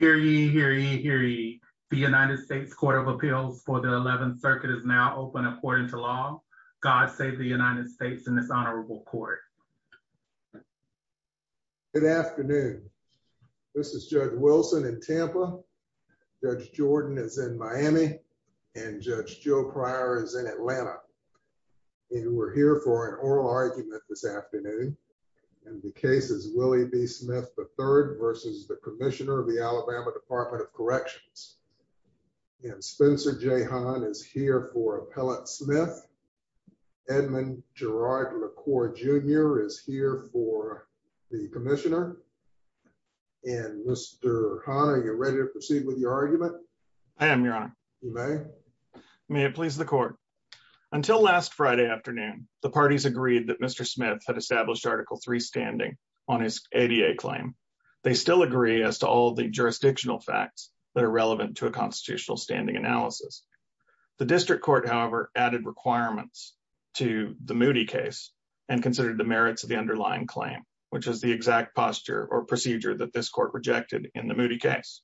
Hear ye, hear ye, hear ye. The United States Court of Appeals for the 11th Circuit is now open according to law. God save the United States in this honorable court. Good afternoon. This is Judge Wilson in Tampa, Judge Jordan is in Miami, and Judge Joe Pryor is in Atlanta. And we're here for an oral argument this afternoon. And the case is Willie B. Smith, III v. Commissioner, Alabama Department of Corrections. And Spencer J. Hahn is here for Appellate Smith. Edmund Gerard LaCour, Jr. is here for the Commissioner. And Mr. Hahn, are you ready to proceed with your argument? I am, Your Honor. You may. May it please the court. Until last Friday afternoon, the parties agreed that Mr. Smith had established Article III standing on his ADA claim. They still agree as to all the jurisdictional facts that are relevant to a constitutional standing analysis. The district court, however, added requirements to the Moody case and considered the merits of the underlying claim, which is the exact posture or procedure that this court rejected in the Moody case.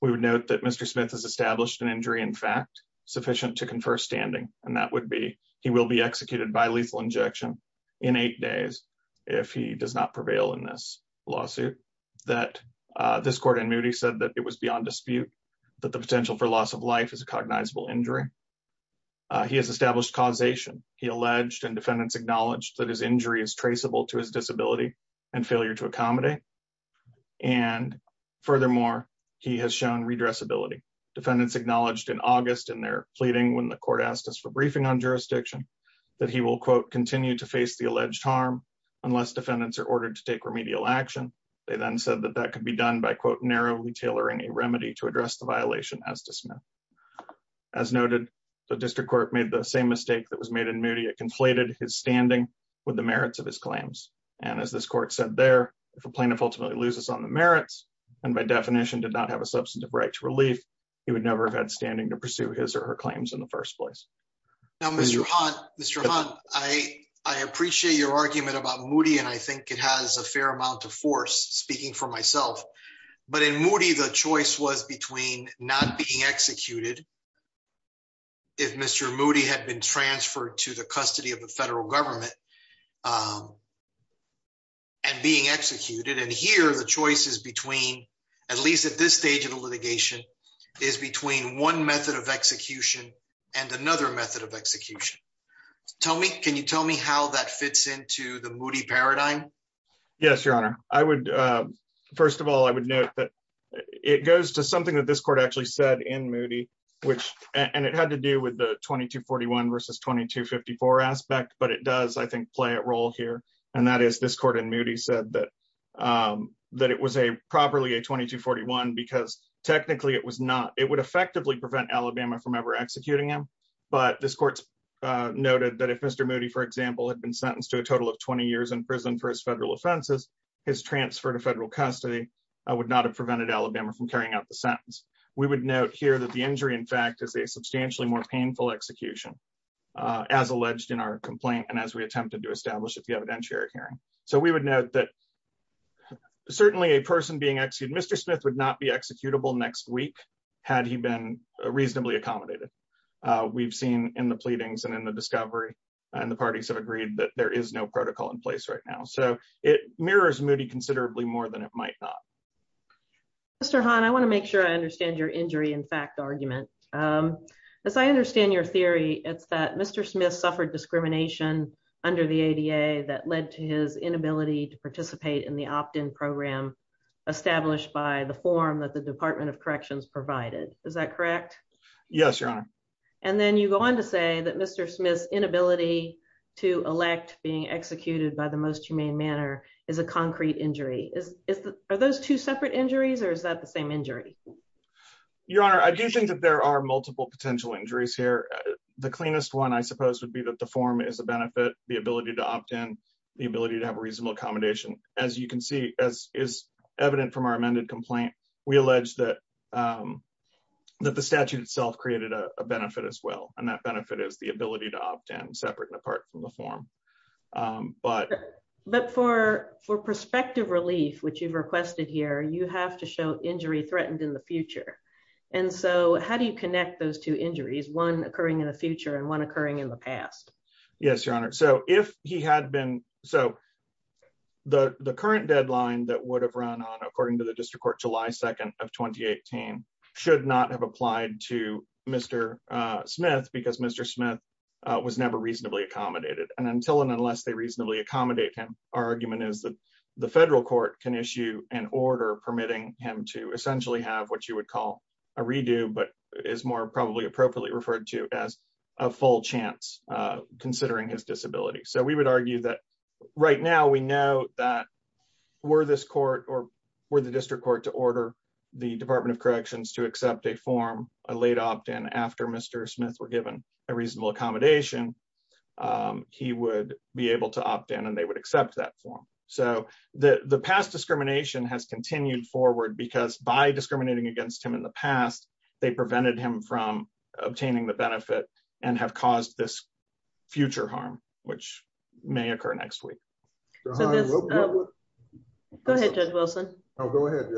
We would note that Mr. Smith has established an injury in fact, sufficient to confer standing, and that would be he will be executed by lethal injection in eight days if he does not prevail in this lawsuit. This court in Moody said that it was beyond dispute, that the potential for loss of life is a cognizable injury. He has established causation. He alleged and defendants acknowledged that his injury is traceable to his disability and failure to accommodate. And furthermore, he has shown redressability. Defendants acknowledged in August in their pleading when the court asked us for briefing on jurisdiction, that he will continue to face the alleged harm unless defendants are ordered to take remedial action. They then said that that could be done by narrowly tailoring a remedy to address the violation as to Smith. As noted, the district court made the same mistake that was made in Moody. It conflated his standing with the merits of his claims. And as this court said there, if a plaintiff ultimately loses on the merits, and by definition did not have a substantive right to relief, he would never have had standing to Now, Mr. Hunt, Mr. Hunt, I appreciate your argument about Moody. And I think it has a fair amount of force speaking for myself. But in Moody, the choice was between not being executed. If Mr. Moody had been transferred to the custody of the federal government and being executed, and here the choices between at least at this stage of the litigation is between one method of execution and another method of execution. Tell me, can you tell me how that fits into the Moody paradigm? Yes, your honor, I would. First of all, I would note that it goes to something that this court actually said in Moody, which and it had to do with the 2241 versus 2254 aspect, but it does, I think, play a role here. And that is this court in Moody said that, that it was a properly a 2241, because technically, it was not it would effectively prevent Alabama from ever executing him. But this court noted that if Mr. Moody, for example, had been sentenced to a total of 20 years in prison for his federal offenses, his transfer to federal custody, I would not have prevented Alabama from carrying out the sentence, we would note here that the injury, in fact, is a substantially more painful execution, as alleged in our complaint. And as we attempted to establish at the evidentiary hearing, so we would note that certainly a person being executed, Mr. Smith would not be executable next week, had he been reasonably accommodated. We've seen in the pleadings and in the discovery, and the parties have agreed that there is no protocol in place right now. So it mirrors Moody considerably more than it might not. Mr. Hahn, I want to make sure I understand your injury in fact argument. As I understand your discrimination under the ADA that led to his inability to participate in the opt in program, established by the form that the Department of Corrections provided. Is that correct? Yes, Your Honor. And then you go on to say that Mr. Smith's inability to elect being executed by the most humane manner is a concrete injury. Is it are those two separate injuries? Or is that the same injury? Your Honor, I do think that there are multiple potential injuries here. The cleanest one, I suppose, would be that the form is a benefit, the ability to opt in, the ability to have a reasonable accommodation. As you can see, as is evident from our amended complaint, we allege that the statute itself created a benefit as well. And that benefit is the ability to opt in separate and apart from the form. But But for prospective relief, which you've requested here, you have to show injury threatened in the future and one occurring in the past. Yes, Your Honor. So if he had been so the current deadline that would have run on according to the district court July 2 of 2018, should not have applied to Mr. Smith because Mr. Smith was never reasonably accommodated. And until and unless they reasonably accommodate him, our argument is that the federal court can issue an order permitting him to essentially have what you would call a redo, but is more probably appropriately referred to as a full chance, considering his disability. So we would argue that right now we know that were this court or were the district court to order the Department of Corrections to accept a form, a late opt in after Mr. Smith were given a reasonable accommodation, he would be able to opt in and they would accept that form. So the past discrimination has continued forward because by discriminating against him in the past, they prevented him from obtaining the benefit and have caused this future harm, which may occur next week. Go ahead, Judge Wilson. Oh, go ahead.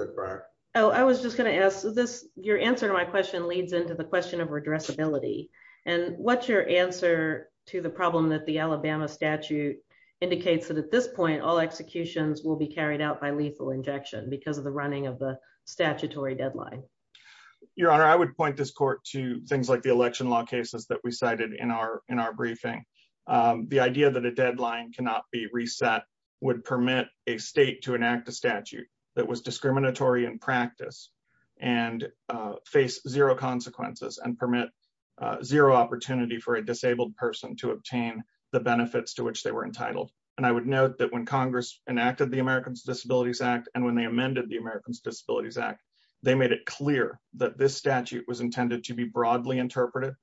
Oh, I was just going to ask this. Your answer to my question leads into the question of addressability. And what's your answer to the problem that the Alabama statute indicates that at this point, all executions will be carried out by lethal injection because of the running of the statutory deadline. Your Honor, I would point this to things like the election law cases that we cited in our briefing. The idea that a deadline cannot be reset would permit a state to enact a statute that was discriminatory in practice and face zero consequences and permit zero opportunity for a disabled person to obtain the benefits to which they were entitled. And I would note that when Congress enacted the Americans with Disabilities Act and when they amended the Americans with Disabilities Act, they made it clear that this statute was intended to be broadly interpreted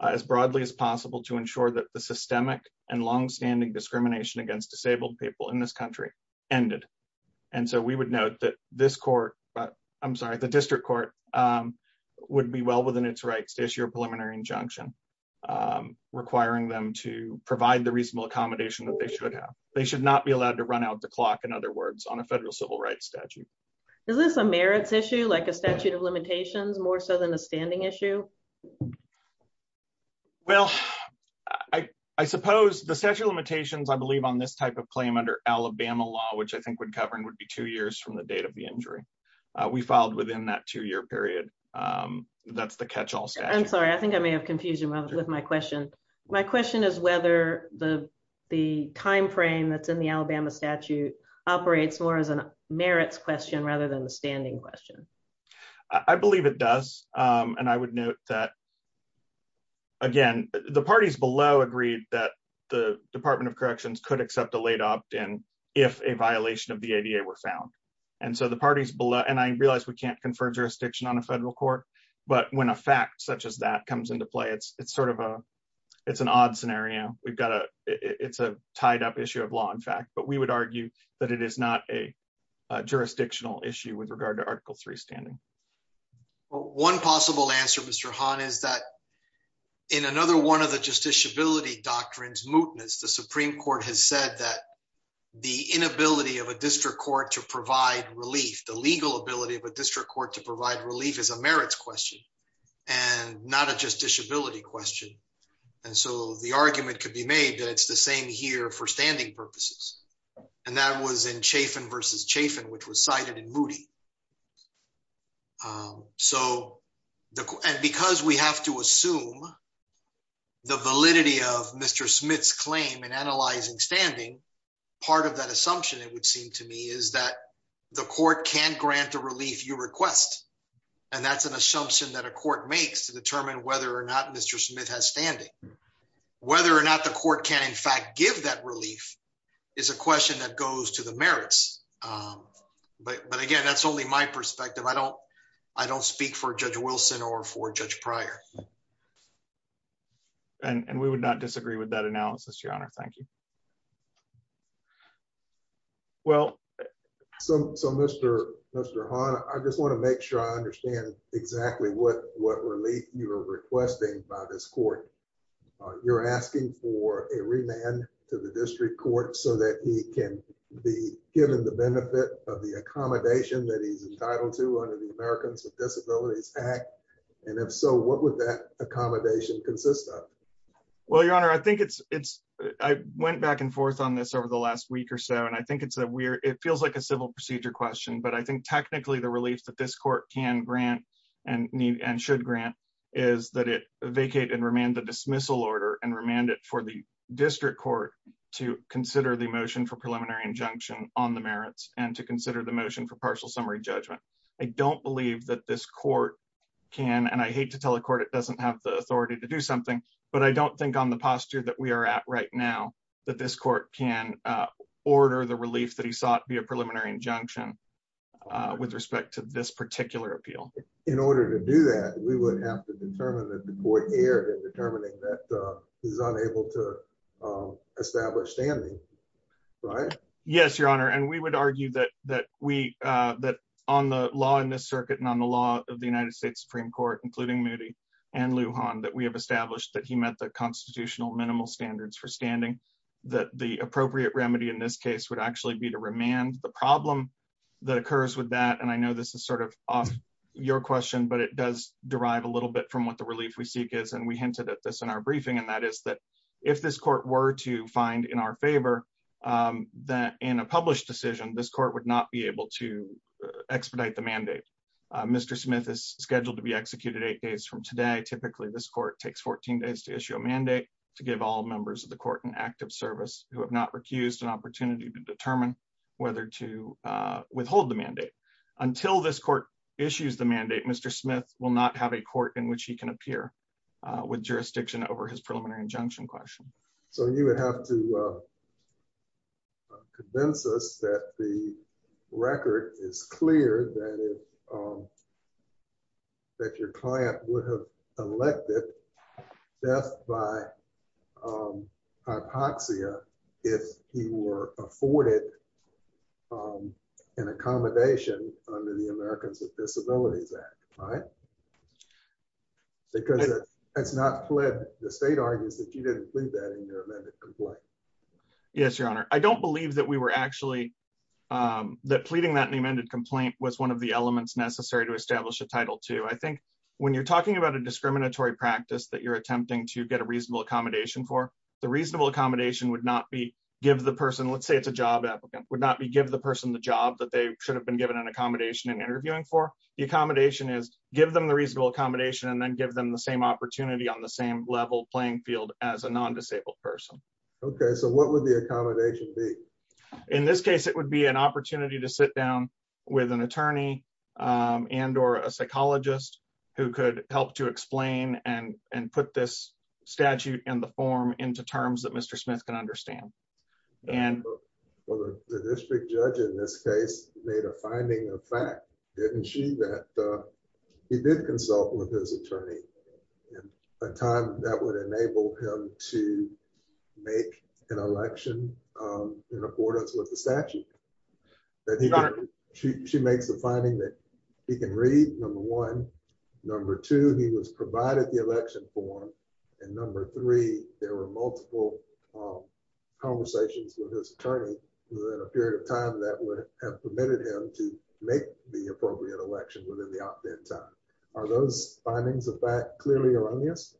as broadly as possible to ensure that the systemic and longstanding discrimination against disabled people in this country ended. And so we would note that this court, I'm sorry, the district court would be well within its rights to issue a preliminary injunction requiring them to provide the reasonable accommodation that they should have. They should not be allowed to run out the clock, in other words, on a federal civil rights statute. Is this a merits issue, like a statute of limitations more so than a standing issue? Well, I suppose the statute of limitations, I believe on this type of claim under Alabama law, which I think would cover would be two years from the date of the injury. We filed within that two year period. That's the catch all statute. I'm sorry, I think I may have confusion with my question. My question is whether the timeframe that's in the Alabama statute operates more as a merits question rather than the standing question. I believe it does. And I would note that again, the parties below agreed that the Department of Corrections could accept a late opt-in if a violation of the ADA were found. And so the parties below, and I realize we can't confer jurisdiction on a federal court, but when a fact such as that comes into play, it's sort of a odd scenario. It's a tied up issue of law, in fact, but we would argue that it is not a jurisdictional issue with regard to Article III standing. One possible answer, Mr. Hahn, is that in another one of the justiciability doctrines, mootness, the Supreme Court has said that the inability of a district court to provide relief, the legal ability of a district court to provide relief is a merits question and not a justiciability question. And so the argument could be made that it's the same here for standing purposes. And that was in Chafin v. Chafin, which was cited in Moody. And because we have to assume the validity of Mr. Smith's claim in analyzing standing, part of that assumption, it would seem to me, is that the court can't grant a relief you request. And that's an assumption that a court makes to determine whether or not Mr. Smith has standing. Whether or not the court can, in fact, give that relief is a question that goes to the merits. But again, that's only my perspective. I don't speak for Judge Wilson or for Judge Pryor. And we would not disagree with that analysis, Your Honor. Thank you. Well, so Mr. Hahn, I just want to make sure I understand exactly what relief you're requesting by this court. You're asking for a remand to the district court so that he can be given the benefit of the accommodation that he's entitled to under the Americans with Disabilities Act. And if so, what would that accommodation consist of? Well, Your Honor, I think it's—I went back and forth on this over the last week or so, and I think it's a weird—it feels like a civil procedure question, but I think technically the relief that this court can grant and should grant is that it vacate and remand the dismissal order and remand it for the district court to consider the motion for preliminary injunction on the merits and to consider the motion for partial summary judgment. I don't believe that this court can—and I hate to tell the court it doesn't have the authority to do something—but I don't think on the posture that we are at right now that this court can order the relief that he sought via preliminary injunction with respect to this particular appeal. In order to do that, we would have to determine that the court erred in determining that he's unable to establish standing, right? Yes, Your Honor, and we would argue that we—that on the law in this circuit and on the law of the United States Supreme Court, including Moody and Lujan, that we have established that he met the constitutional minimal standards for standing, that the appropriate remedy in this case would actually be to remand. The problem that occurs with that—and I know this is sort of off your question, but it does derive a little bit from what the relief we seek is, and we hinted at this in our briefing—and that is that if this court were to find in our favor that in a published decision, this court would not be able to expedite the mandate. Mr. Smith is scheduled to be executed eight days from today. Typically, this court takes 14 days to issue a mandate to give all members of the court an active service who have not recused an opportunity to determine whether to withhold the mandate. Until this court issues the mandate, Mr. Smith will not have a court in which he can appear with jurisdiction over his preliminary injunction question. So you would have to convince us that the record is clear that your client would have elected death by hypoxia if he were afforded an accommodation under the Americans with Disabilities Act, right? Because that's not plead—the state argues that you didn't plead that in your amended complaint. Yes, Your Honor. I don't believe that we were actually—that pleading that in the amended complaint was one of the elements necessary to establish a Title II. I think when you're talking about a discriminatory practice that you're attempting to get a reasonable accommodation for, the reasonable accommodation would not be give the person—let's say it's a job applicant—would not be give the person the job that they should have been given an accommodation in interviewing for. The accommodation is give them the reasonable accommodation and then give them the same opportunity on the same level playing field as a non-disabled person. Okay, so what would the accommodation be? In this case, it would be an opportunity to sit down with an attorney and or a psychologist who could help to explain and put this statute in the form into terms that Mr. Smith can understand. The district judge in this case made a finding of fact, didn't she, that he did consult with his attorney in a time that would enable him to make an election in accordance with the statute? She makes the finding that he can read, number one. Number two, he was provided the election form. And number three, there were multiple conversations with his attorney within a period of time that would have permitted him to make the appropriate election within the opt-in time. Are those findings of fact clearly or unbiased?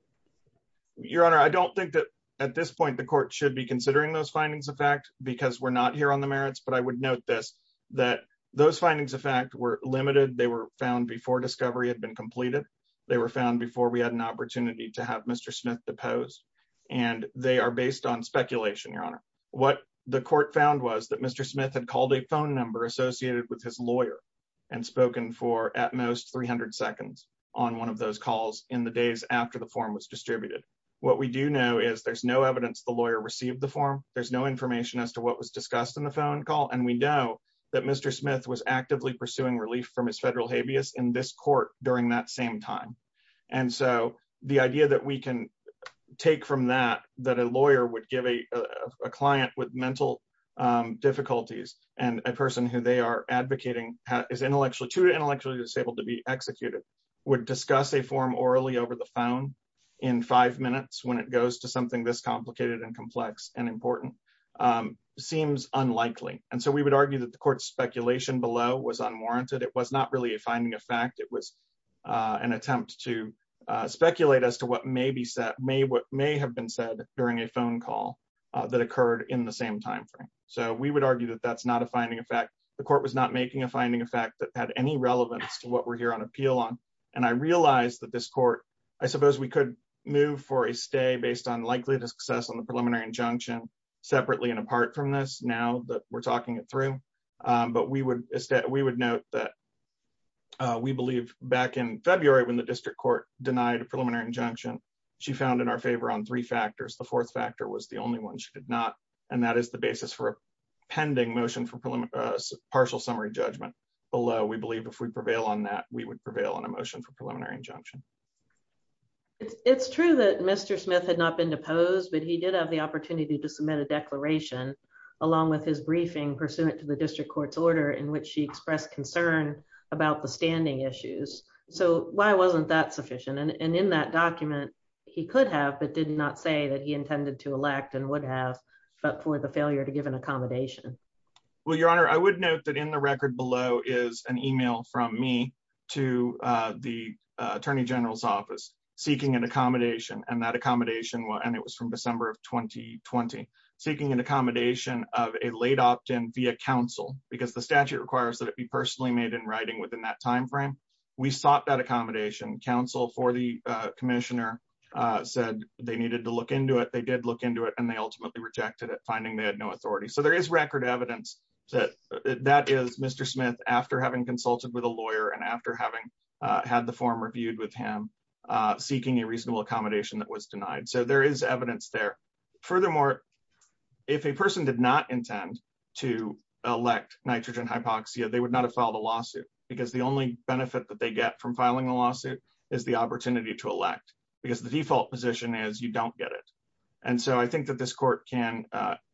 Your Honor, I don't think that at this point the court should be considering those findings of fact because we're not here on the merits. But I would note this, that those findings of fact were limited. They were found before discovery had been completed. They were found before we had an opportunity to have Mr. Smith depose. And they are based on speculation, Your Honor. What the court found was that Mr. Smith had called a phone number associated with his lawyer and spoken for at most 300 seconds on one of those calls in the days after the form was distributed. What we do know is there's no evidence the lawyer received the form. There's no information as to what was discussed in the phone call. And we know that Mr. Smith was actively pursuing relief from his federal habeas in this court during that same time. And so the idea that we can take from that, that a lawyer would give a client with mental difficulties and a person who they are advocating is intellectually, two to intellectually disabled to be executed, would discuss a form orally over the phone in five minutes when it goes to something this complicated and complex and important seems unlikely. And so we would argue that the court's speculation below was unwarranted. It was not really a finding of fact. It was an attempt to speculate as to what may have been said during a phone call that occurred in the same time frame. So we would argue that that's not a finding of fact. The court was not making a finding of fact that had any relevance to what we're here on appeal on. And I realized that this court, I suppose we could move for a stay based on likelihood of success on the preliminary injunction separately and apart from this now that we're talking it through. But we would note that we believe back in February when the district court denied a preliminary injunction, she found in our favor on three factors. The fourth factor was the only one she did not. And that is the basis for a pending motion for partial summary judgment. Although we believe if we prevail on that, we would prevail on a motion for preliminary injunction. It's true that Mr. Smith had not been deposed, but he did have the opportunity to submit a declaration along with his briefing pursuant to the district court's order in which she expressed concern about the standing issues. So why wasn't that sufficient? And in that document, he could have, but did not say that he intended to elect and would have, but for the failure to give an accommodation. Well, your honor, I would note that in the record below is an email from me to the attorney general's office seeking an accommodation and that accommodation, and it was from December of 2020, seeking an accommodation of a late opt in via council because the statute requires that it be personally made in writing within that timeframe. We sought that accommodation council for the commissioner said they needed to look into it. They did look into it and they ultimately rejected it finding they had no authority. So there is record evidence that that is Mr. Smith after having consulted with a lawyer and after having had the form reviewed with him seeking a reasonable accommodation that was denied. So there is evidence there. Furthermore, if a person did not intend to elect nitrogen hypoxia, they would not have filed a lawsuit because the only benefit that they get from filing a lawsuit is the opportunity to elect because the default position is you don't get it. And so I think that this court can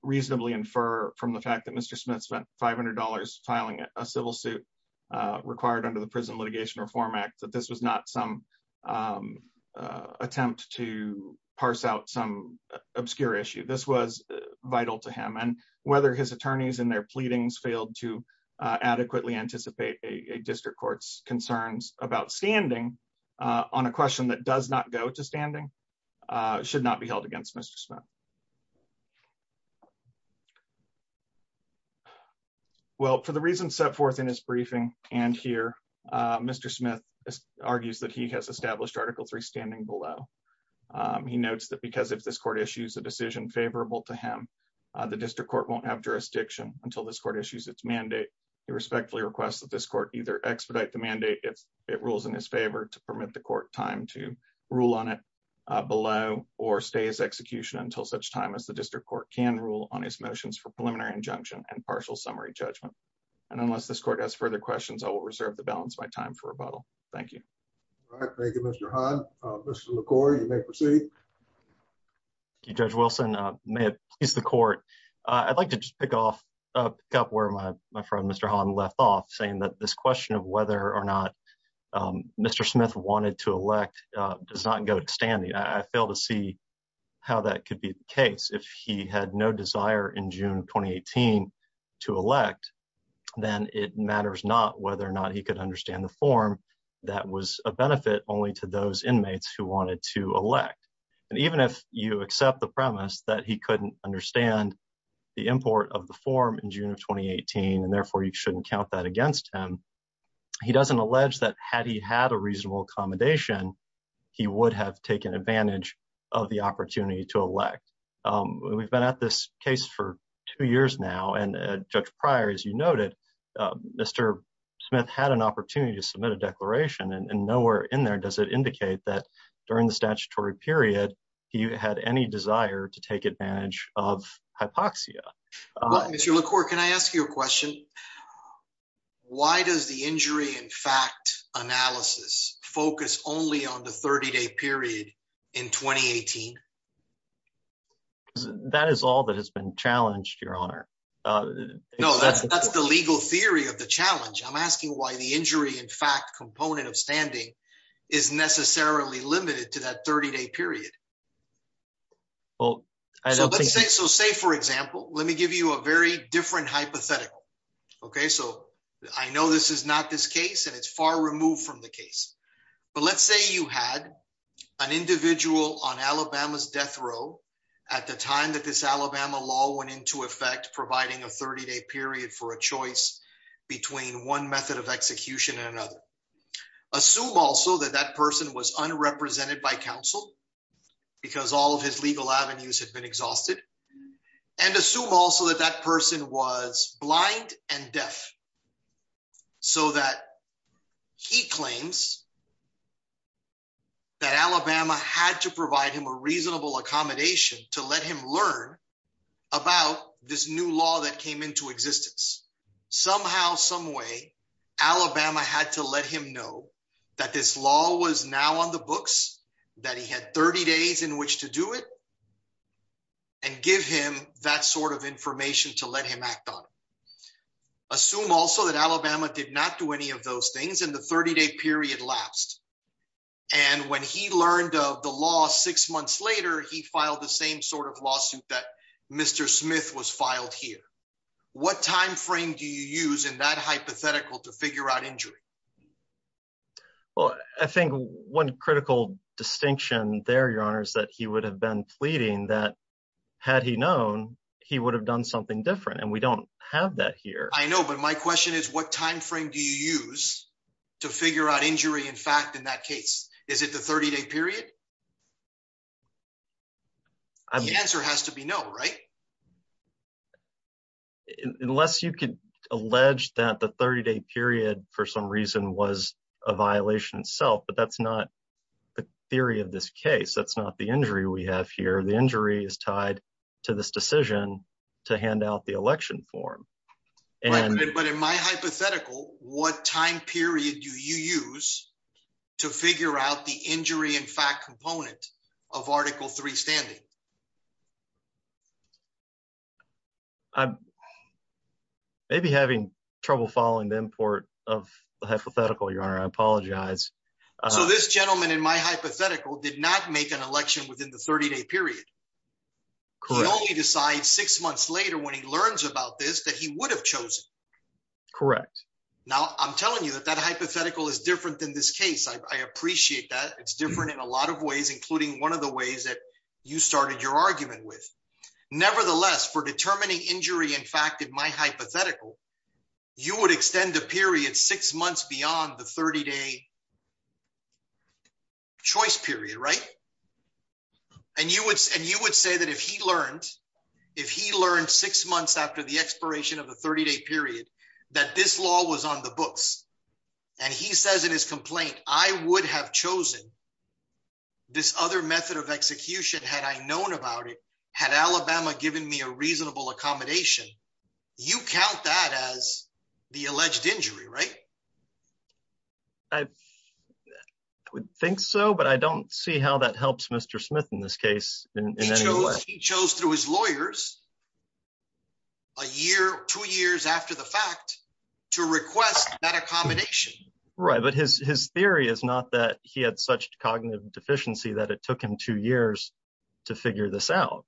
reasonably infer from the fact that Mr. Smith spent $500 filing a civil suit required under the prison litigation reform act, that this was not some attempt to parse out some obscure issue. This was vital to him and whether his attorneys and their pleadings failed to adequately anticipate a district court's concerns about standing on a question that does not go to standing should not be held against Mr. Smith. Well, for the reasons set forth in his briefing and here, Mr. Smith argues that he has established article three standing below. He notes that because if this court issues a decision favorable to him, the district court won't have jurisdiction until this court issues its mandate. He respectfully requests that this court either expedite the mandate if it rules in his favor to permit the court time to rule on it below or stay as execution until such time as the district court can rule on his motions for preliminary injunction and partial summary judgment. And unless this court has further questions, I will reserve the balance my time for rebuttal. Thank you. All right. Thank you, Mr. Han. Mr. McCoy, you may proceed. Thank you, Judge Wilson. May it please the court. I'd like to just pick up where my friend, Mr. Han, left off saying that this question of whether or not Mr. Smith wanted to elect does not go to standing. I fail to see how that could be the case. If he had no desire in June 2018 to elect, then it matters not whether or not he could understand the form that was a benefit only to those inmates who wanted to elect. And even if you accept the premise that he couldn't understand the import of the form in June of 2018, and therefore you shouldn't count that against him, he doesn't allege that had he had a reasonable accommodation, he would have taken advantage of the opportunity to elect. We've been at this case for two years now. And Judge Pryor, as you and nowhere in there does it indicate that during the statutory period, he had any desire to take advantage of hypoxia. Mr. McCoy, can I ask you a question? Why does the injury in fact, analysis focus only on the 30 day period in 2018? That is all that has been challenged, Your Honor. No, that's the legal theory of the challenge. I'm asking why the injury in fact, component of standing is necessarily limited to that 30 day period. Well, I don't think so. Say for example, let me give you a very different hypothetical. Okay, so I know this is not this case, and it's far removed from the case. But let's say you had an individual on Alabama's death row, at the time this Alabama law went into effect providing a 30 day period for a choice between one method of execution and another. Assume also that that person was unrepresented by counsel, because all of his legal avenues had been exhausted. And assume also that that person was blind and deaf. So that he claims that Alabama had to provide him a reasonable accommodation to let him learn about this new law that came into existence. Somehow, some way, Alabama had to let him know that this law was now on the books, that he had 30 days in which to do it and give him that sort of information to let him act on. Assume also that Alabama did not do any of those things in the 30 day period lapsed. And when he learned of the law six months later, he filed the same sort of lawsuit that Mr. Smith was filed here. What time frame do you use in that hypothetical to figure out injury? Well, I think one critical distinction there, Your Honor, is that he would have been pleading that had he known, he would have done something different. And we don't have that here. I know. But my question is, what time frame do you use to figure out injury? In fact, in that case, is it the 30 day period? The answer has to be no, right? Unless you could allege that the 30 day period, for some reason, was a violation itself. But that's not the theory of this case. That's not the injury we have here. The injury is tied to this decision to hand out the election form. But in my hypothetical, what time period do you use to figure out the injury in fact component of Article Three standing? Maybe having trouble following the import of the hypothetical, Your Honor, I apologize. So this gentleman in my hypothetical did not make an election within the 30 day period. Could only decide six months later when he learns about this that he would have chosen. Correct. Now I'm telling you that that hypothetical is different than this case. I appreciate that it's different in a lot of ways, including one of the ways that you started your argument with. Nevertheless, for determining injury, in fact, in my hypothetical, you would extend the period six months beyond the 30 day choice period, right? And you would say that if he learned, if he learned six months after the expiration of the 30 day period, that this law was on the books. And he says in his complaint, I would have chosen this other method of execution had I known about it. Had Alabama given me a reasonable accommodation, you count that as the alleged injury, right? I would think so, but I don't see how that helps Mr. Smith in this case. He chose through his lawyers. A year, two years after the fact to request that accommodation. Right. But his, his theory is not that he had such cognitive deficiency that it took him two years to figure this out.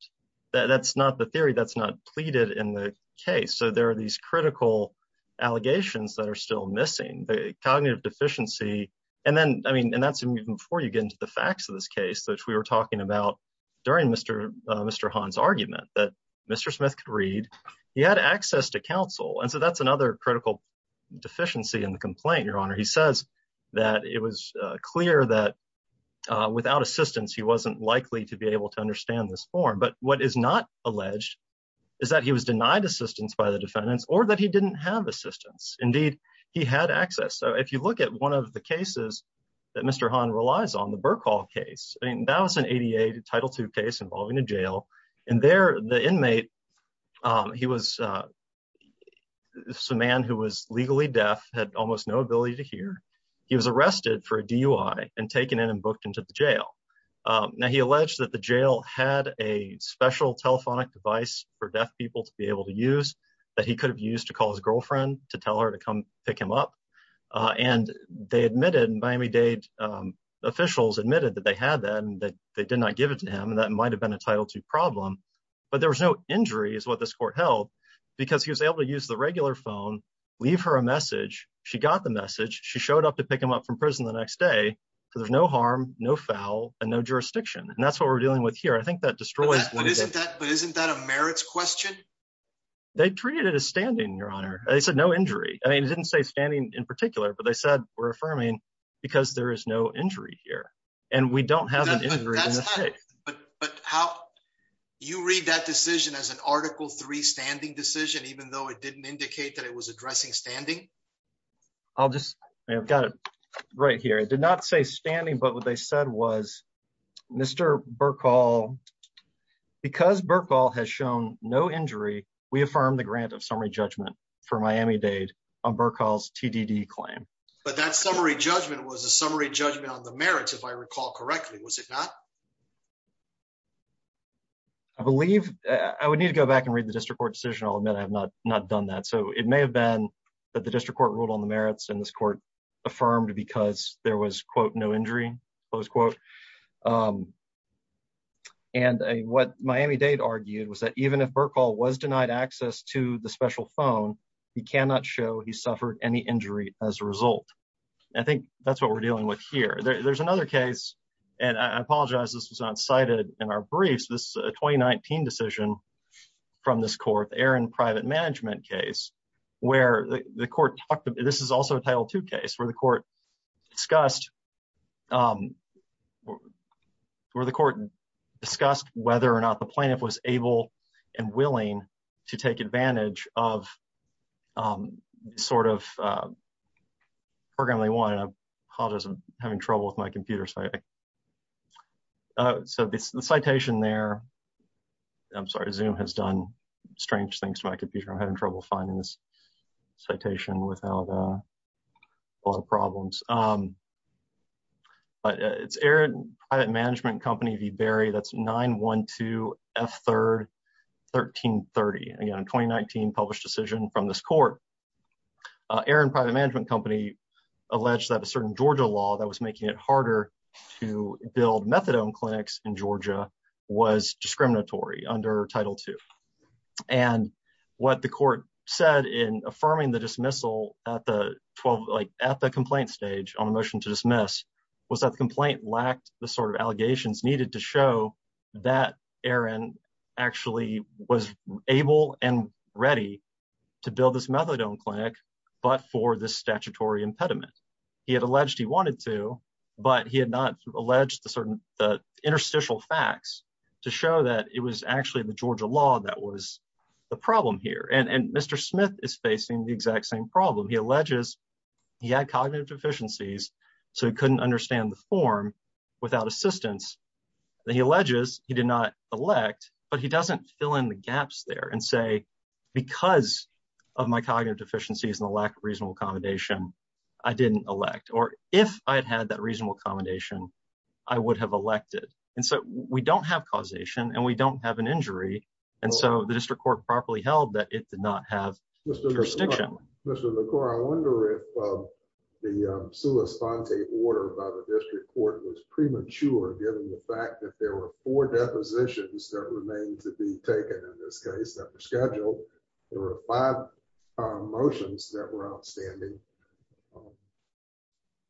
That's not the theory that's not pleaded in the case. So there are these critical allegations that are still missing the cognitive deficiency. And then, I mean, and that's even before you get into the facts of this case, which we were talking about during Mr. Mr. Han's argument that Mr. Smith could read, he had access to counsel. And so that's another critical deficiency in the complaint, Your Honor. He says that it was clear that without assistance, he wasn't likely to be able to understand this form. But what is not alleged is that he was didn't have assistance. Indeed, he had access. So if you look at one of the cases that Mr. Han relies on, the Burke Hall case, I mean, that was an ADA Title II case involving a jail. And there the inmate, he was a man who was legally deaf, had almost no ability to hear. He was arrested for a DUI and taken in and booked into the jail. Now he alleged that the jail had a special telephonic device for deaf people to be able to use that he could have used to call his girlfriend to tell her to come pick him up. And they admitted, Miami-Dade officials admitted that they had that and that they did not give it to him. And that might have been a Title II problem. But there was no injury is what this court held because he was able to use the regular phone, leave her a message. She got the message. She showed up to pick him up from prison the next day. So there's no harm, no foul and no jurisdiction. And that's what we're dealing with here. I think that destroys. But isn't that a merits question? They treated it as standing, Your Honor. They said no injury. I mean, it didn't say standing in particular, but they said we're affirming because there is no injury here and we don't have an injury. But how you read that decision as an Article III standing decision, even though it didn't indicate that it was addressing standing? I'll just I've got it right here. It did not say standing, but what they said was Mr. Burkall, because Burkall has shown no injury, we affirm the grant of summary judgment for Miami-Dade on Burkall's TDD claim. But that summary judgment was a summary judgment on the merits, if I recall correctly, was it not? I believe I would need to go back and read the district court decision. I'll admit I have not not done that. So it may have been that the district court ruled on the merits in this court affirmed because there was, quote, no injury, close quote. And what Miami-Dade argued was that even if Burkall was denied access to the special phone, he cannot show he suffered any injury as a result. I think that's what we're dealing with here. There's another case, and I apologize this was not cited in our briefs, this 2019 decision from this court, Aaron Private Management case, where the court talked, this is also a Title II case, where the court discussed, where the court discussed whether or not the plaintiff was able and willing to take advantage of this sort of program they wanted. I apologize, I'm having trouble with my computer. So the citation there, I'm sorry, Zoom has done strange things to my computer. I'm having trouble finding this citation without a lot of problems. But it's Aaron Private Management Company v. Berry, that's 912 F3rd 1330. Again, a 2019 published decision from this court. Aaron Private Management Company alleged that a certain Georgia law that was making it harder to build methadone clinics in Georgia was discriminatory under Title II. And what the court said in affirming the dismissal at the complaint stage on a motion to dismiss, was that the complaint lacked the sort of allegations needed to show that Aaron actually was able and ready to build this methadone clinic, but for this statutory impediment. He had alleged he wanted to, but he had not alleged the certain, the interstitial facts to show that it was actually the Georgia law that was the problem here. And Mr. Smith is facing the exact same problem. He alleges he had cognitive deficiencies, so he couldn't understand the form without assistance. He alleges he did not elect, but he doesn't fill in the gaps there and because of my cognitive deficiencies and the lack of reasonable accommodation, I didn't elect or if I had had that reasonable accommodation, I would have elected. And so we don't have causation and we don't have an injury. And so the district court properly held that it did not have jurisdiction. Mr. LaCour, I wonder if the sua sponte order by the district court was premature given the fact that there were four depositions that remain to be taken in this case, that were scheduled. There were five motions that were outstanding.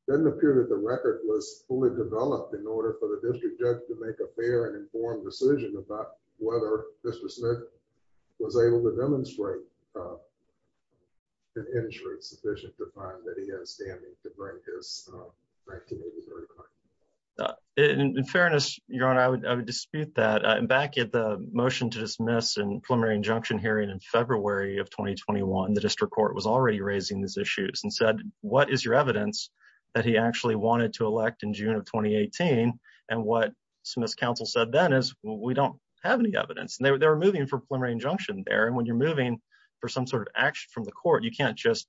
Doesn't appear that the record was fully developed in order for the district judge to make a fair and informed decision about whether Mr. Smith was able to demonstrate an insurance sufficient to find that he has standing to bring his back to me. In fairness, your honor, I would dispute that. And back at the motion to dismiss and preliminary injunction hearing in February of 2021, the district court was already raising these issues and said, what is your evidence that he actually wanted to elect in June of 2018? And what Smith's counsel said then is we don't have any evidence. And they were moving for preliminary injunction there. And when you're moving for some sort of action from the court, you can't just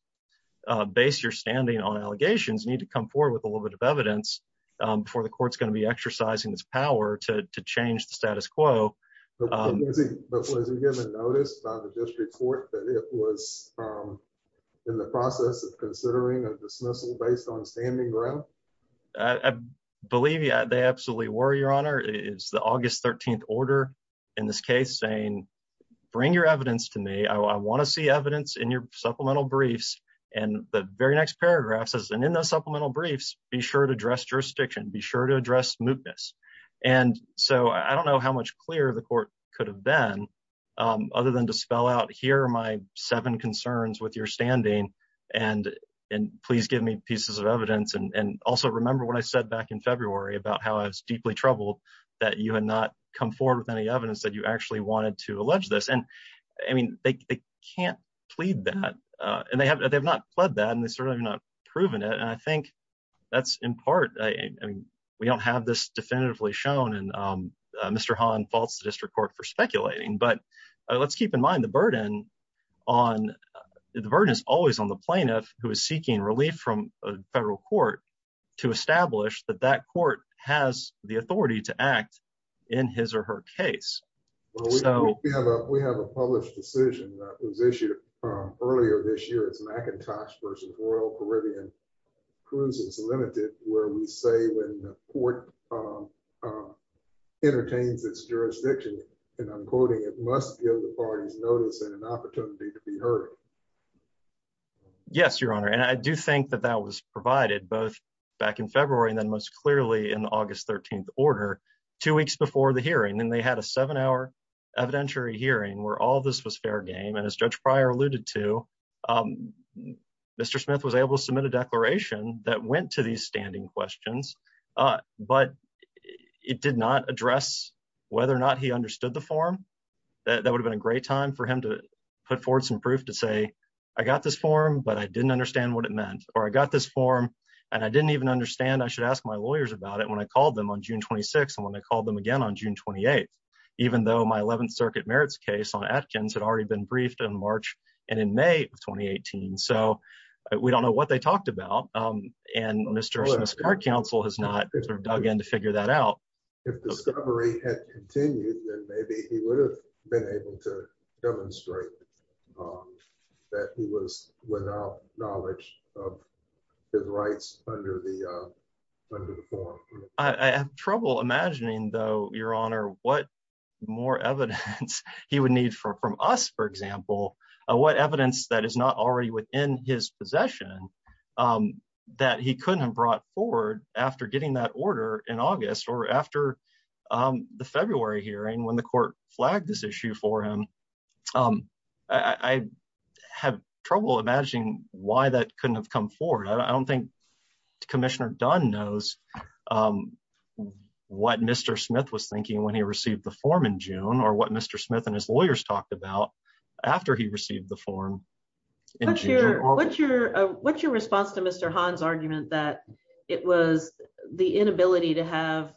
base your standing on allegations. You need to come forward with a little bit of evidence before the court's going to be exercising its power to change the status quo. But was he given notice by the district court that it was in the process of considering a dismissal based on standing ground? I believe they absolutely were, your honor. It's the August 13th order in this case saying, bring your evidence to me. I want to see evidence in your supplemental briefs. And the very next paragraph says, and in those supplemental briefs, be sure to address jurisdiction, be sure to address mootness. And so I don't know how much clearer the court could have been other than to spell out here are my seven concerns with your standing and please give me pieces of evidence. And also remember what I said back in February about how I was deeply troubled that you had not come forward with any evidence that you actually wanted to allege this. And I mean, they can't plead that and they have not pled that and they certainly have not proven it. And I think that's in part, I mean, we don't have this definitively shown and Mr. Hahn faults the district court for speculating, but let's keep in mind the burden on, the burden is always on the plaintiff who is seeking relief from a federal court to establish that that court has the authority to act in his or her case. We have a published decision that was issued earlier this cruise is limited where we say when the court entertains its jurisdiction, and I'm quoting, it must give the parties notice and an opportunity to be heard. Yes, Your Honor. And I do think that that was provided both back in February, and then most clearly in August 13th order, two weeks before the hearing, and they had a seven hour evidentiary hearing where all this was fair game. And as Judge Pryor alluded to, Mr. Smith was able to submit a that went to these standing questions, but it did not address whether or not he understood the form that would have been a great time for him to put forward some proof to say, I got this form, but I didn't understand what it meant, or I got this form. And I didn't even understand I should ask my lawyers about it when I called them on June 26. And when I called them again on June 28, even though my 11th circuit merits case on Atkins had already been briefed in March, and in May of 2018. So we don't know what they talked about. And Mr. Smith's court counsel has not sort of dug in to figure that out. If discovery had continued, then maybe he would have been able to demonstrate that he was without knowledge of his rights under the under the form. I have trouble imagining though, Your Honor, what more evidence he would need for from us, for example, what evidence that is not already within his possession, that he couldn't have brought forward after getting that order in August or after the February hearing when the court flagged this issue for him. I have trouble imagining why that couldn't have come forward. I don't think Commissioner Dunn knows what Mr. Smith was thinking when he received the form in June, or what Mr. Smith and his lawyers talked about after he received the form. What's your what's your response to Mr. Hahn's argument that it was the inability to have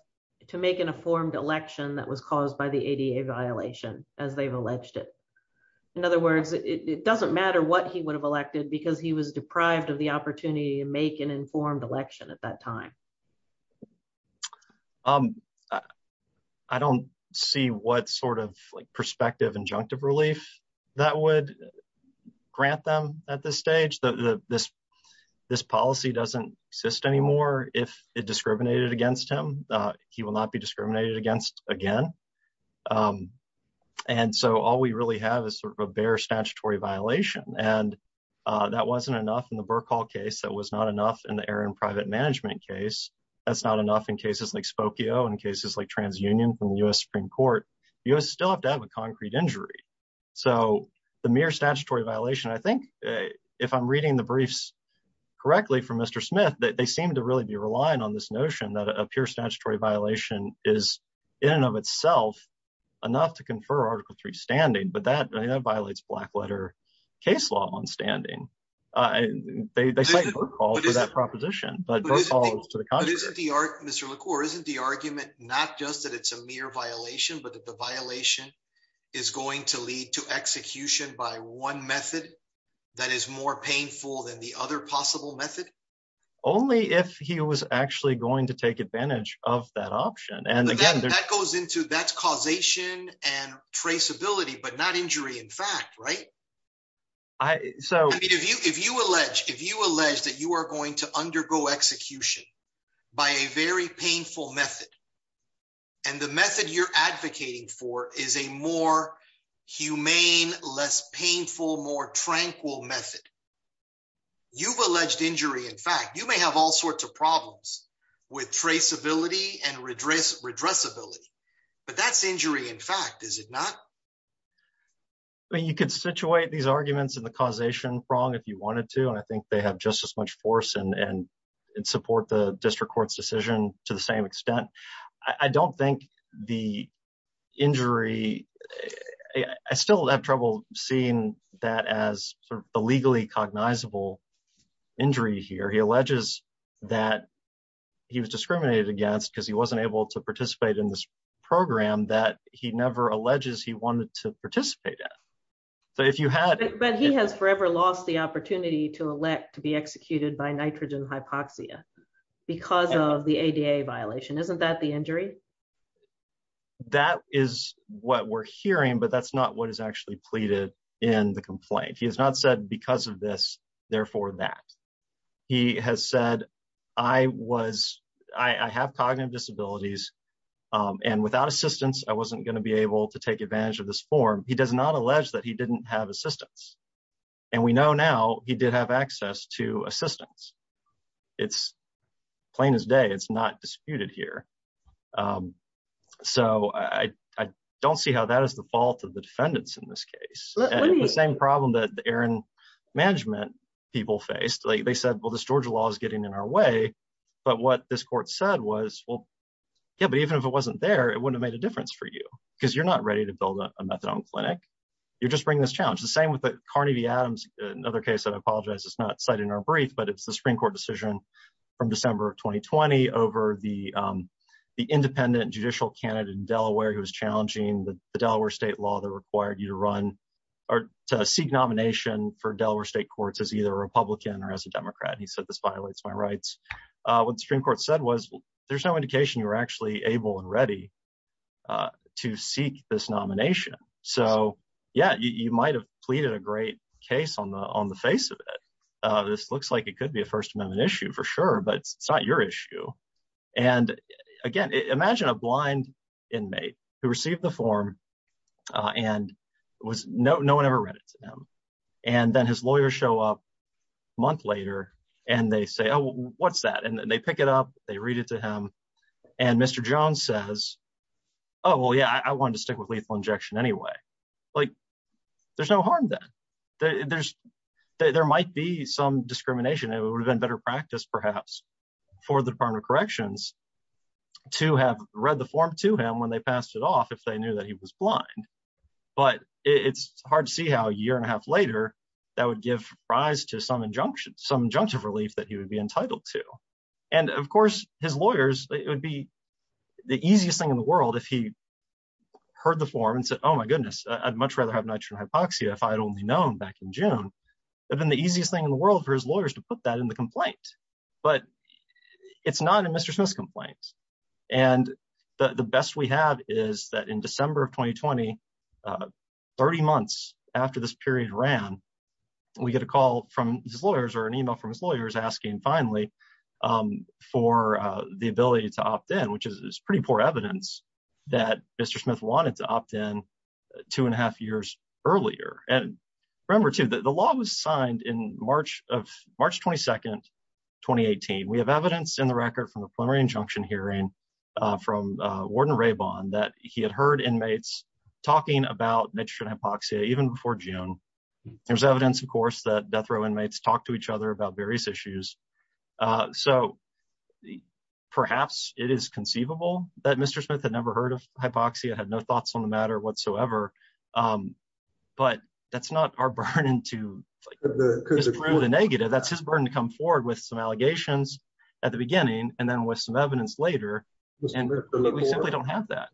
to make an informed election that was caused by the ADA violation as they've alleged it. In other words, it doesn't matter what he would have elected because he was deprived of the opportunity to make an informed election at that time. I don't see what sort of like prospective injunctive relief that would grant them at this stage. This policy doesn't exist anymore. If it discriminated against him, he will not be discriminated against again. And so all we really have is sort of a bare statutory violation. And that wasn't enough in the Burke Hall case. That was not enough in the Aaron private management case. That's not enough in cases like Spokio and cases like TransUnion from the U.S. Supreme Court. You still have to have a concrete injury. So the mere statutory violation, I think, if I'm reading the briefs correctly from Mr. Smith, that they seem to really be relying on this notion that a pure statutory violation is in and of itself enough to confer Article 3 standing. But that violates black letter case law on standing. They cite Burke Hall for that proposition, but Burke Hall is to the contrary. But isn't the argument, Mr. LaCour, isn't the argument not just that it's a mere violation, but that the violation is going to lead to execution by one method that is more painful than the other possible method? Only if he was actually going to injury in fact, right? If you allege that you are going to undergo execution by a very painful method and the method you're advocating for is a more humane, less painful, more tranquil method, you've alleged injury. In fact, you may have all sorts of problems with traceability and I mean, you could situate these arguments in the causation prong if you wanted to, and I think they have just as much force and support the district court's decision to the same extent. I don't think the injury, I still have trouble seeing that as a legally cognizable injury here. He alleges that he was discriminated against because he wasn't able to participate in. But he has forever lost the opportunity to elect to be executed by nitrogen hypoxia because of the ADA violation. Isn't that the injury? That is what we're hearing, but that's not what is actually pleaded in the complaint. He has not said because of this, therefore that. He has said, I have cognitive disabilities and without assistance, I wasn't going to be able to take advantage of this form. He does not allege that he didn't have assistance and we know now he did have access to assistance. It's plain as day, it's not disputed here. So I don't see how that is the fault of the defendants in this case. The same problem that Aaron management people faced, they said, well, this Georgia law is getting in our way, but what this court said was, well, yeah, but even if it wasn't there, it wouldn't have made difference for you because you're not ready to build a methadone clinic. You're just bringing this challenge. The same with the Carnegie Adams, another case that I apologize, it's not cited in our brief, but it's the Supreme Court decision from December of 2020 over the independent judicial candidate in Delaware who was challenging the Delaware state law that required you to run or to seek nomination for Delaware state courts as either a Republican or as a Democrat. He said, this violates my rights. What the Supreme Court said was there's no indication you were actually able and ready to seek this nomination. So yeah, you might've pleaded a great case on the face of it. This looks like it could be a first amendment issue for sure, but it's not your issue. And again, imagine a blind inmate who received the form and no one ever read it to them. And then his lawyers show up a month later and they say, oh, what's that? And then they pick it up, they read it to them. And Mr. Jones says, oh, well, yeah, I wanted to stick with lethal injection anyway. Like there's no harm then. There might be some discrimination. It would have been better practice perhaps for the department of corrections to have read the form to him when they passed it off if they knew that he was blind. But it's hard to see how a year and a half later that would give rise to some injunctions, some injunctive relief that he would be entitled to. And of course his lawyers, it would be the easiest thing in the world if he heard the form and said, oh my goodness, I'd much rather have nitrogen hypoxia if I had only known back in June. That'd been the easiest thing in the world for his lawyers to put that in the complaint, but it's not a Mr. Smith's complaint. And the best we have is that in December of 2020, 30 months after this period ran, we get a call from his lawyers or an email from his lawyers asking finally for the ability to opt in, which is pretty poor evidence that Mr. Smith wanted to opt in two and a half years earlier. And remember too that the law was signed in March of March 22nd, 2018. We have evidence in the record from the preliminary injunction hearing from Warden Rabon that he had heard inmates talking about nitrogen hypoxia even before June. There's evidence, of course, that death row inmates talk to each other about various issues. So perhaps it is conceivable that Mr. Smith had never heard of hypoxia, had no thoughts on the matter whatsoever. But that's not our burden to prove the negative. That's his burden to come forward with some allegations at the beginning and then with some evidence later. And we simply don't have that.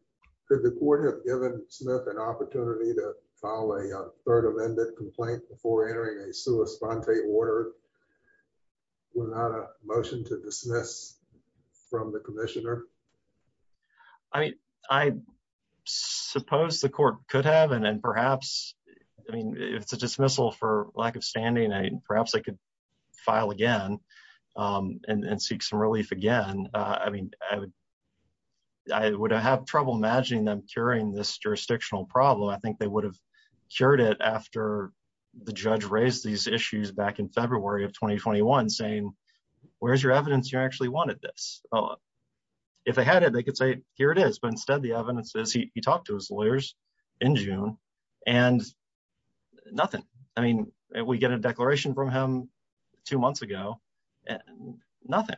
Mr. Smith, an opportunity to file a third amended complaint before entering a sua sponte order without a motion to dismiss from the commissioner? I mean, I suppose the court could have and then perhaps, I mean, if it's a dismissal for lack of standing, perhaps I could file again and seek some relief again. I mean, I would have trouble imagining them curing this jurisdictional problem. I think they would have cured it after the judge raised these issues back in February of 2021 saying, where's your evidence? You actually wanted this. If they had it, they could say, here it is. But instead, the evidence is he talked to his lawyers in June and nothing. I mean, we get a declaration from him two months ago and nothing.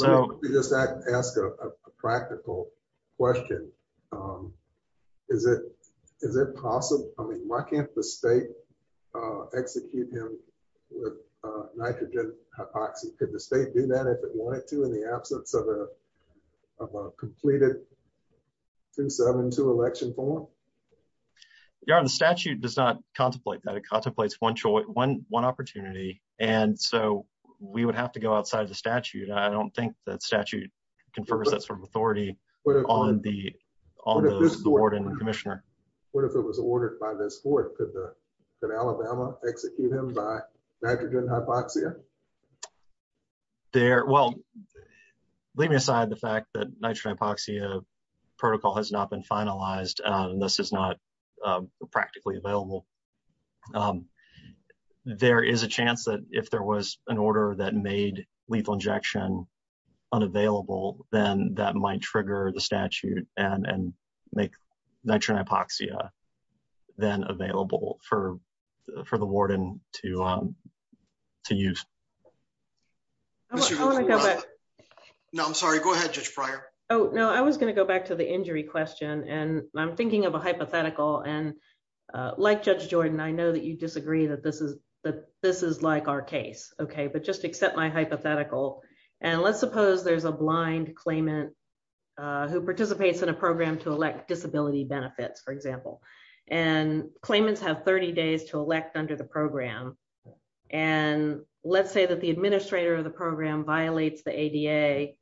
Let me just ask a practical question. Is it possible, I mean, why can't the state execute him with nitrogen hypoxia? Could the state do that if it wanted to in the absence of a of a completed 272 election form? Your honor, the statute does not contemplate that. It contemplates one opportunity. And so we would have to go outside the statute. I don't think that statute confers that sort of authority on the board and the commissioner. What if it was ordered by this court? Could Alabama execute him by nitrogen hypoxia? Well, leave me aside the fact that nitrogen hypoxia protocol has not been finalized. This is not practically available. There is a chance that if there was an order that made lethal injection unavailable, then that might trigger the statute and make nitrogen hypoxia then available for the warden to use. I want to go back. No, I'm sorry. Go ahead, Judge Fryer. Oh, no, I was going to go back to the injury question. And I'm thinking of a hypothetical and like Judge Jordan, I know you disagree that this is like our case. OK, but just accept my hypothetical. And let's suppose there's a blind claimant who participates in a program to elect disability benefits, for example, and claimants have 30 days to elect under the program. And let's say that the administrator of the program violates the ADA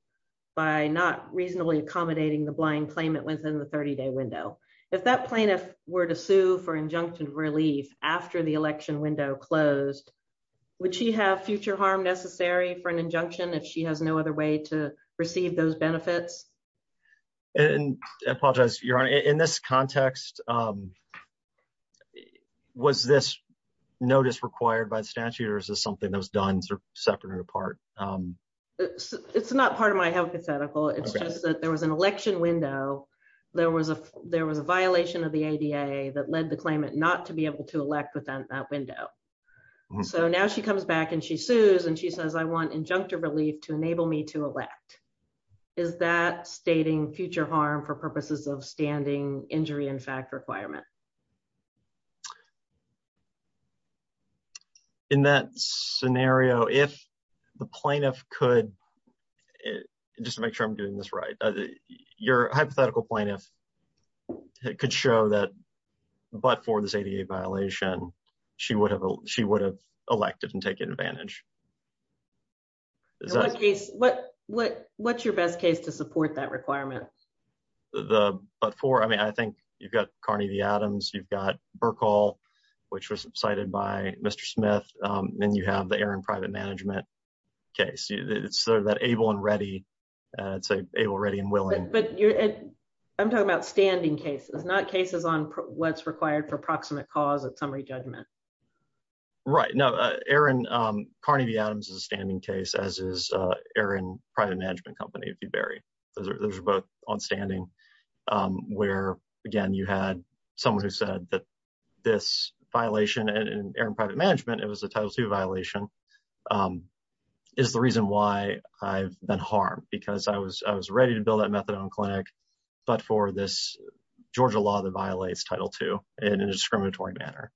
by not reasonably accommodating the blind claimant within the 30 day window. If that plaintiff were to sue for injunction of relief after the election window closed, would she have future harm necessary for an injunction if she has no other way to receive those benefits? And I apologize, Your Honor, in this context, was this notice required by the statute or is this something that was done separate and apart? It's not part of my hypothetical. It's just that there was an violation of the ADA that led the claimant not to be able to elect within that window. So now she comes back and she sues and she says, I want injunctive relief to enable me to elect. Is that stating future harm for purposes of standing injury in fact requirement? In that scenario, if the plaintiff could just make sure I'm doing this right, your hypothetical plaintiff could show that, but for this ADA violation, she would have elected and taken advantage. What's your best case to support that requirement? But for, I mean, I think you've got Carney v. Adams, you've got Burkle, which was cited by Mr. Smith, and you have the Aaron private management case. It's sort of that able and ready and willing. I'm talking about standing cases, not cases on what's required for proximate cause of summary judgment. Right. No, Aaron, Carney v. Adams is a standing case, as is Aaron private management company, if you bury. Those are both on standing where, again, you had someone who said that this violation and Aaron private management, it was a Title II violation, is the reason why I've been harmed because I was ready to build that methadone clinic, but for this Georgia law that violates Title II in a discriminatory manner.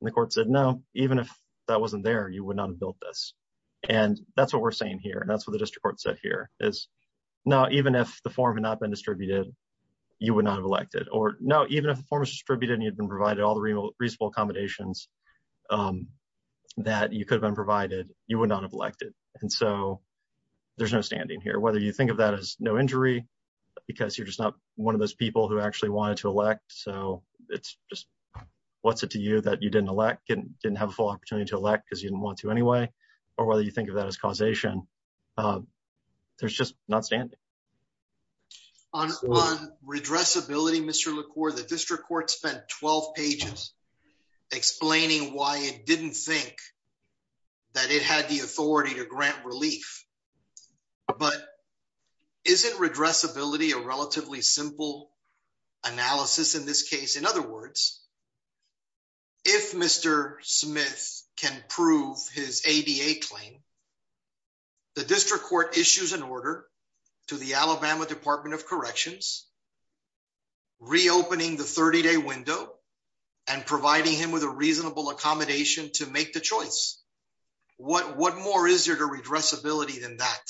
And the court said, no, even if that wasn't there, you would not have built this. And that's what we're saying here. And that's what the district court said here is, no, even if the form had not been distributed, you would not have elected or no, even if the form is distributed and you'd been provided all the reasonable accommodations that you could have been provided, you would not have elected. And so there's no standing here, whether you think of that as no injury, because you're just not one of those people who actually wanted to elect. So it's just, what's it to you that you didn't elect, didn't have a full opportunity to elect because you didn't want to anyway, or whether you think of that as causation, there's just not standing. On redressability, Mr. LaCour, the district court spent 12 pages explaining why it didn't think that it had the authority to grant relief. But isn't redressability a relatively simple analysis in this case? In other words, if Mr. Smith can prove his ADA claim, the district court issues an order to the Alabama Department of Corrections, reopening the 30 day window and providing him with a reasonable accommodation to make the choice. What more is there to redressability than that?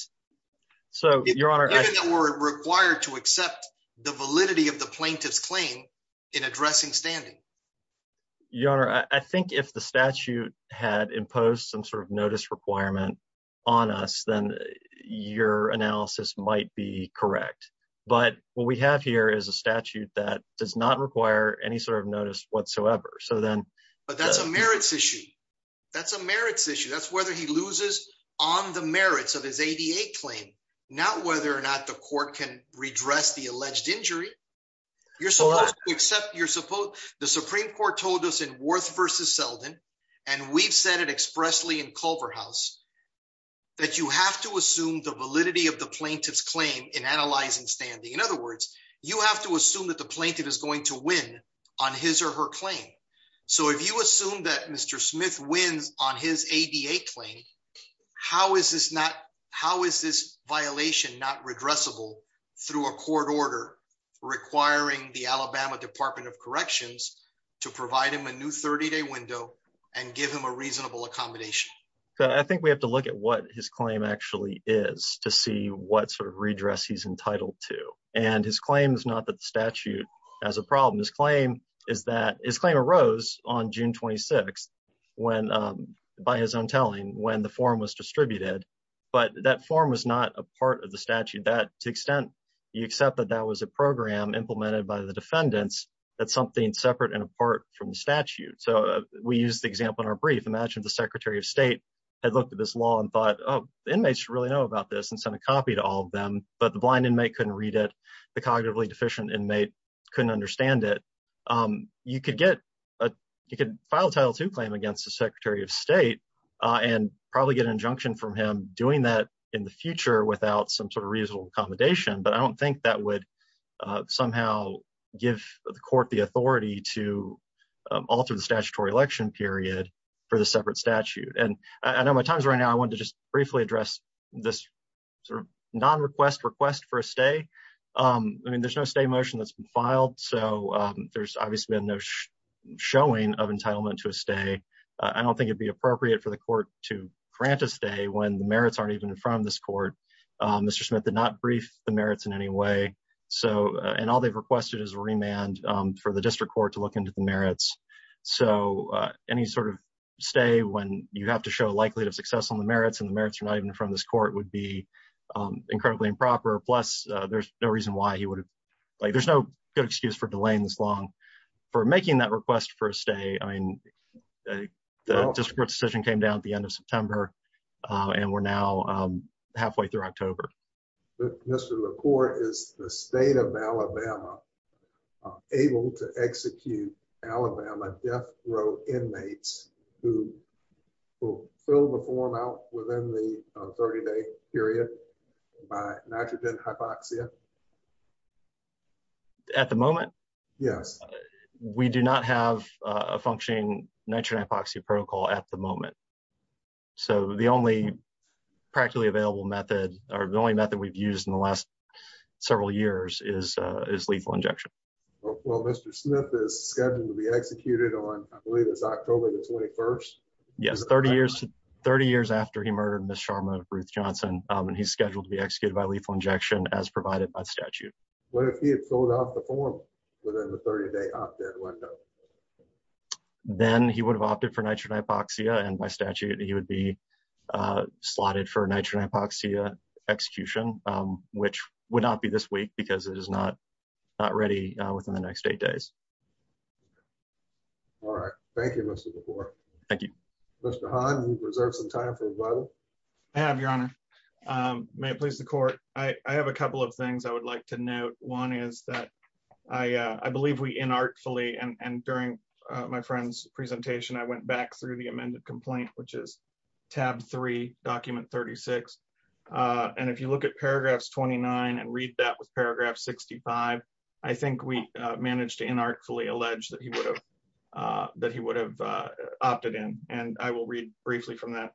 So we're required to accept the validity of the plaintiff's claim in addressing standing. Your Honor, I think if the statute had imposed some sort of notice requirement on us, then your analysis might be correct. But what we have here is a statute that does not require any sort of notice whatsoever. But that's a merits issue. That's a merits issue. That's whether he loses on the merits of his ADA claim, not whether or not the court can redress the alleged injury. The Supreme Court told us in Worth v. Selden, and we've said it expressly in Culverhouse, that you have to assume the validity of the plaintiff's claim in analyzing standing. In other words, you have to assume that the plaintiff is going to win on his or her claim. So if you assume that Mr. Smith wins on his ADA claim, how is this violation not redressable through a court order requiring the Alabama Department of Corrections to provide him a new window and give him a reasonable accommodation? I think we have to look at what his claim actually is to see what sort of redress he's entitled to. And his claim is not that the statute has a problem. His claim is that his claim arose on June 26th when, by his own telling, when the form was distributed. But that form was not a part of the statute. To the extent you accept that that was a program implemented by the defendants, that's something separate and we use the example in our brief. Imagine the Secretary of State had looked at this law and thought, oh, the inmates should really know about this and sent a copy to all of them, but the blind inmate couldn't read it. The cognitively deficient inmate couldn't understand it. You could file a Title II claim against the Secretary of State and probably get an injunction from him doing that in the future without some sort of reasonable accommodation. But I don't think it would be appropriate for the court to grant a stay when the merits aren't even in front of this court. Mr. Smith did not brief the merits in any way. And all they've requested is a remand for the district court to look into the merits. So any sort of stay when you have to show likelihood of success on the merits and the merits are not even in front of this court would be incredibly improper. Plus, there's no good excuse for delaying this long. For making that request for a stay, the district court decision came down at the end of September and we're now able to execute Alabama death row inmates who will fill the form out within the 30-day period by nitrogen hypoxia. At the moment? Yes. We do not have a functioning nitrogen hypoxia protocol at the moment. So the only practically available method or the only method we've used in the last years is lethal injection. Well, Mr. Smith is scheduled to be executed on October the 21st? Yes, 30 years after he murdered Ms. Sharma and he's scheduled to be executed by lethal injection as provided by statute. What if he had filled out the form within the 30-day opt-in window? Then he would have opted for nitrogen hypoxia and by statute he would be slotted for nitrogen hypoxia execution, which would not be this week because it is not ready within the next eight days. All right. Thank you, Mr. LaFleur. Thank you. Mr. Hahn, you reserve some time for rebuttal? I have, Your Honor. May it please the court. I have a couple of things I would like to note. One is that I believe we inartfully and during my friend's presentation, I went back through the amended complaint, which is tab 3, document 36. And if you look at paragraphs 29 and read that with paragraph 65, I think we managed to inartfully allege that he would have opted in. And I will read briefly from that.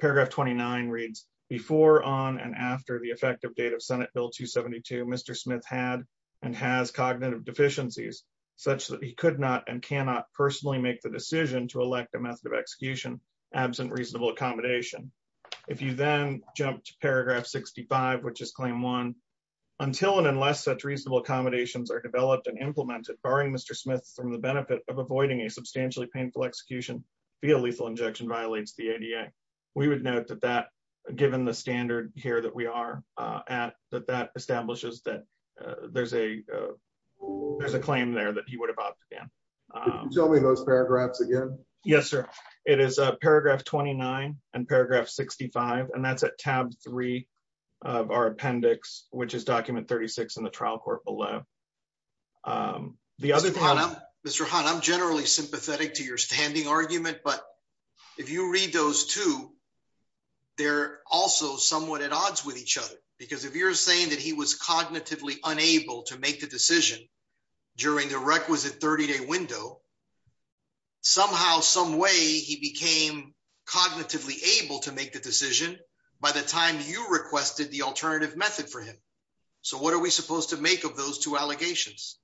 Paragraph 29 reads, before, on, and after the effective date of Senate Bill 272, Mr. Smith had and has cognitive deficiencies such that he could not and cannot personally make the decision to elect a method of execution, absent reasonable accommodation. If you then jump to paragraph 65, which is claim one, until and unless such reasonable accommodations are developed and implemented, barring Mr. Smith from the benefit of avoiding a substantially painful execution via lethal injection violates the ADA. We would note that that, given the standard here that we are at, that that establishes there's a claim there that he would have opted in. Can you tell me those paragraphs again? Yes, sir. It is paragraph 29 and paragraph 65, and that's at tab 3 of our appendix, which is document 36 in the trial court below. The other... Mr. Hahn, I'm generally sympathetic to your standing argument, but if you read those two, they're also somewhat at odds with each other. Because if you're saying that he was cognitively unable to make the decision during the requisite 30-day window, somehow, some way, he became cognitively able to make the decision by the time you requested the alternative method for him. So what are we supposed to make of those two allegations?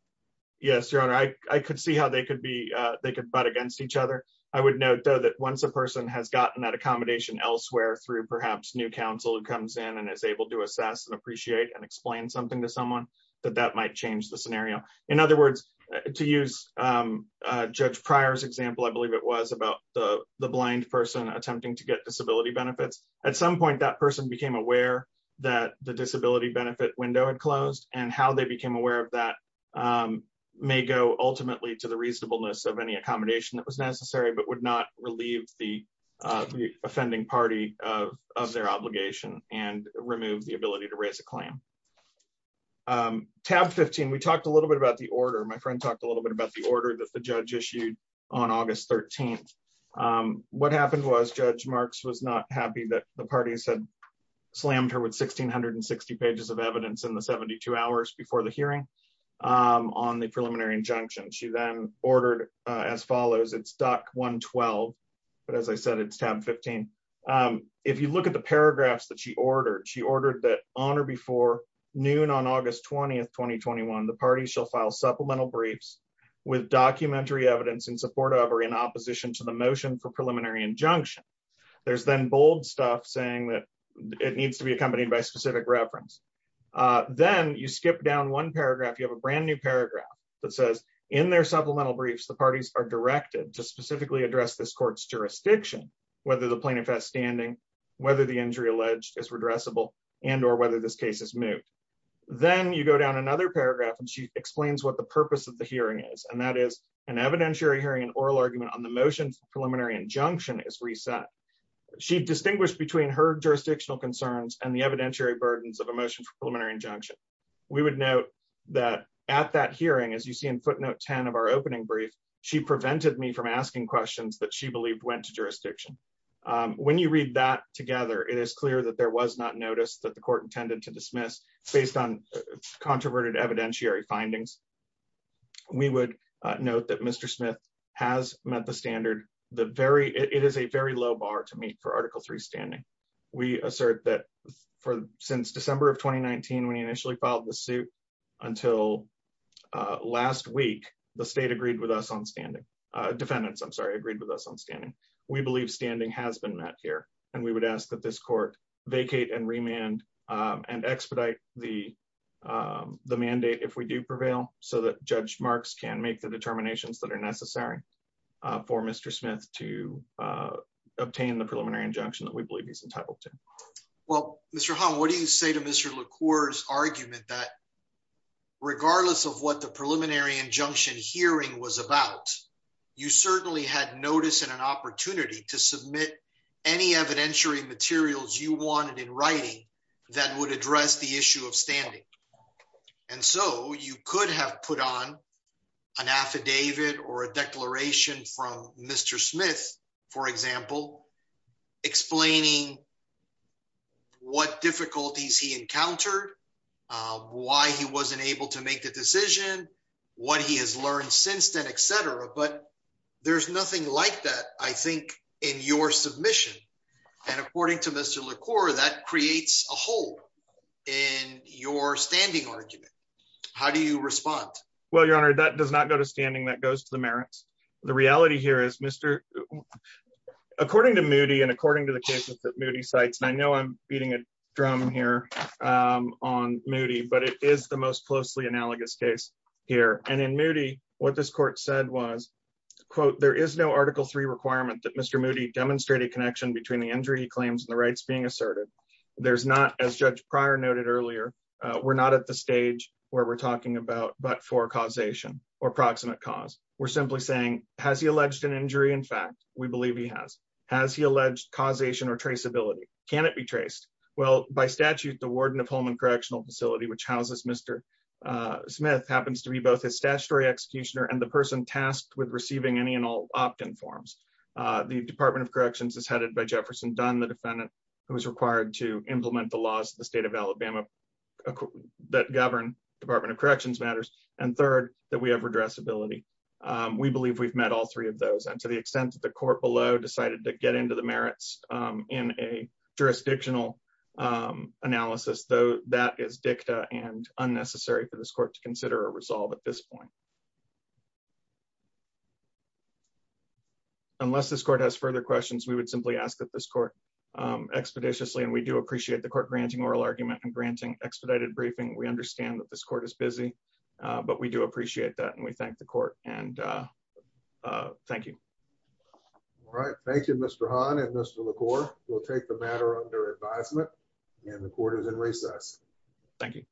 Yes, Your Honor. I could see how they could be... they could fight against each other. I would note, though, that once a person has gotten that accommodation elsewhere through perhaps new counsel who comes in and is able to assess and appreciate and explain something to someone, that that might change the scenario. In other words, to use Judge Pryor's example, I believe it was, about the blind person attempting to get disability benefits. At some point, that person became aware that the disability benefit window had closed, and how they became aware of that may go ultimately to the reasonableness of any but would not relieve the offending party of their obligation and remove the ability to raise a claim. Tab 15, we talked a little bit about the order. My friend talked a little bit about the order that the judge issued on August 13. What happened was Judge Marks was not happy that the parties had slammed her with 1,660 pages of evidence in the 72 hours before the hearing on the preliminary injunction. She then ordered as follows. It's Doc 112, but as I said, it's Tab 15. If you look at the paragraphs that she ordered, she ordered that on or before noon on August 20, 2021, the party shall file supplemental briefs with documentary evidence in support of or in opposition to the motion for preliminary injunction. There's then bold stuff saying that it needs to be accompanied by specific reference. Then you skip down one paragraph. You have a brand new paragraph that says, in their supplemental briefs, the parties are directed to specifically address this court's jurisdiction, whether the plaintiff has standing, whether the injury alleged is redressable, and or whether this case is moved. Then you go down another paragraph, and she explains what the purpose of the hearing is, and that is an evidentiary hearing and oral argument on the motion for preliminary injunction is reset. She distinguished between her jurisdictional concerns and the evidentiary burdens of a motion for preliminary injunction. We would note that at that hearing, as you see in footnote 10 of our opening brief, she prevented me from asking questions that she believed went to jurisdiction. When you read that together, it is clear that there was not notice that the court intended to dismiss based on controverted evidentiary findings. We would note that Mr. Smith has met the standard. It is a very low bar to meet for since December of 2019, when he initially filed the suit until last week, the state agreed with us on standing. Defendants, I'm sorry, agreed with us on standing. We believe standing has been met here, and we would ask that this court vacate and remand and expedite the mandate if we do prevail so that Judge Marks can make the determinations that are necessary for Mr. Smith to obtain the preliminary injunction that we believe he's entitled to. Well, Mr. Hahn, what do you say to Mr. LaCour's argument that regardless of what the preliminary injunction hearing was about, you certainly had notice and an opportunity to submit any evidentiary materials you wanted in writing that would address the issue of standing. And so you could have put on an affidavit or a declaration from Mr. Smith, for example, explaining what difficulties he encountered, why he wasn't able to make the decision, what he has learned since then, et cetera. But there's nothing like that, I think, in your submission. And according to Mr. LaCour, that creates a hole in your standing argument. How do you respond? Well, Your Honor, that does not go to standing. That goes to the merits. The reality here is, according to Moody and according to the cases that Moody cites, and I know I'm beating a drum here on Moody, but it is the most closely analogous case here. And in Moody, what this court said was, quote, there is no Article III requirement that Mr. Moody demonstrated connection between the injury claims and the rights being asserted. There's not, as Judge Pryor noted earlier, we're not at the stage where we're talking about but causation or proximate cause. We're simply saying, has he alleged an injury? In fact, we believe he has. Has he alleged causation or traceability? Can it be traced? Well, by statute, the warden of Holman Correctional Facility, which houses Mr. Smith, happens to be both his statutory executioner and the person tasked with receiving any and all opt-in forms. The Department of Corrections is headed by Jefferson Dunn, the defendant who is required to implement the laws of the state of Alabama that govern Department of Corrections matters. And third, that we have redressability. We believe we've met all three of those. And to the extent that the court below decided to get into the merits in a jurisdictional analysis, though, that is dicta and unnecessary for this court to consider a resolve at this point. Unless this court has further questions, we would simply ask that this court expeditiously, and we do appreciate the court granting oral argument and granting expedited briefing. We understand that this court is busy, but we do appreciate that. And we thank the court. And thank you. All right. Thank you, Mr. Hahn and Mr. LaCour. We'll take the matter under advisement and the court is in recess. Thank you.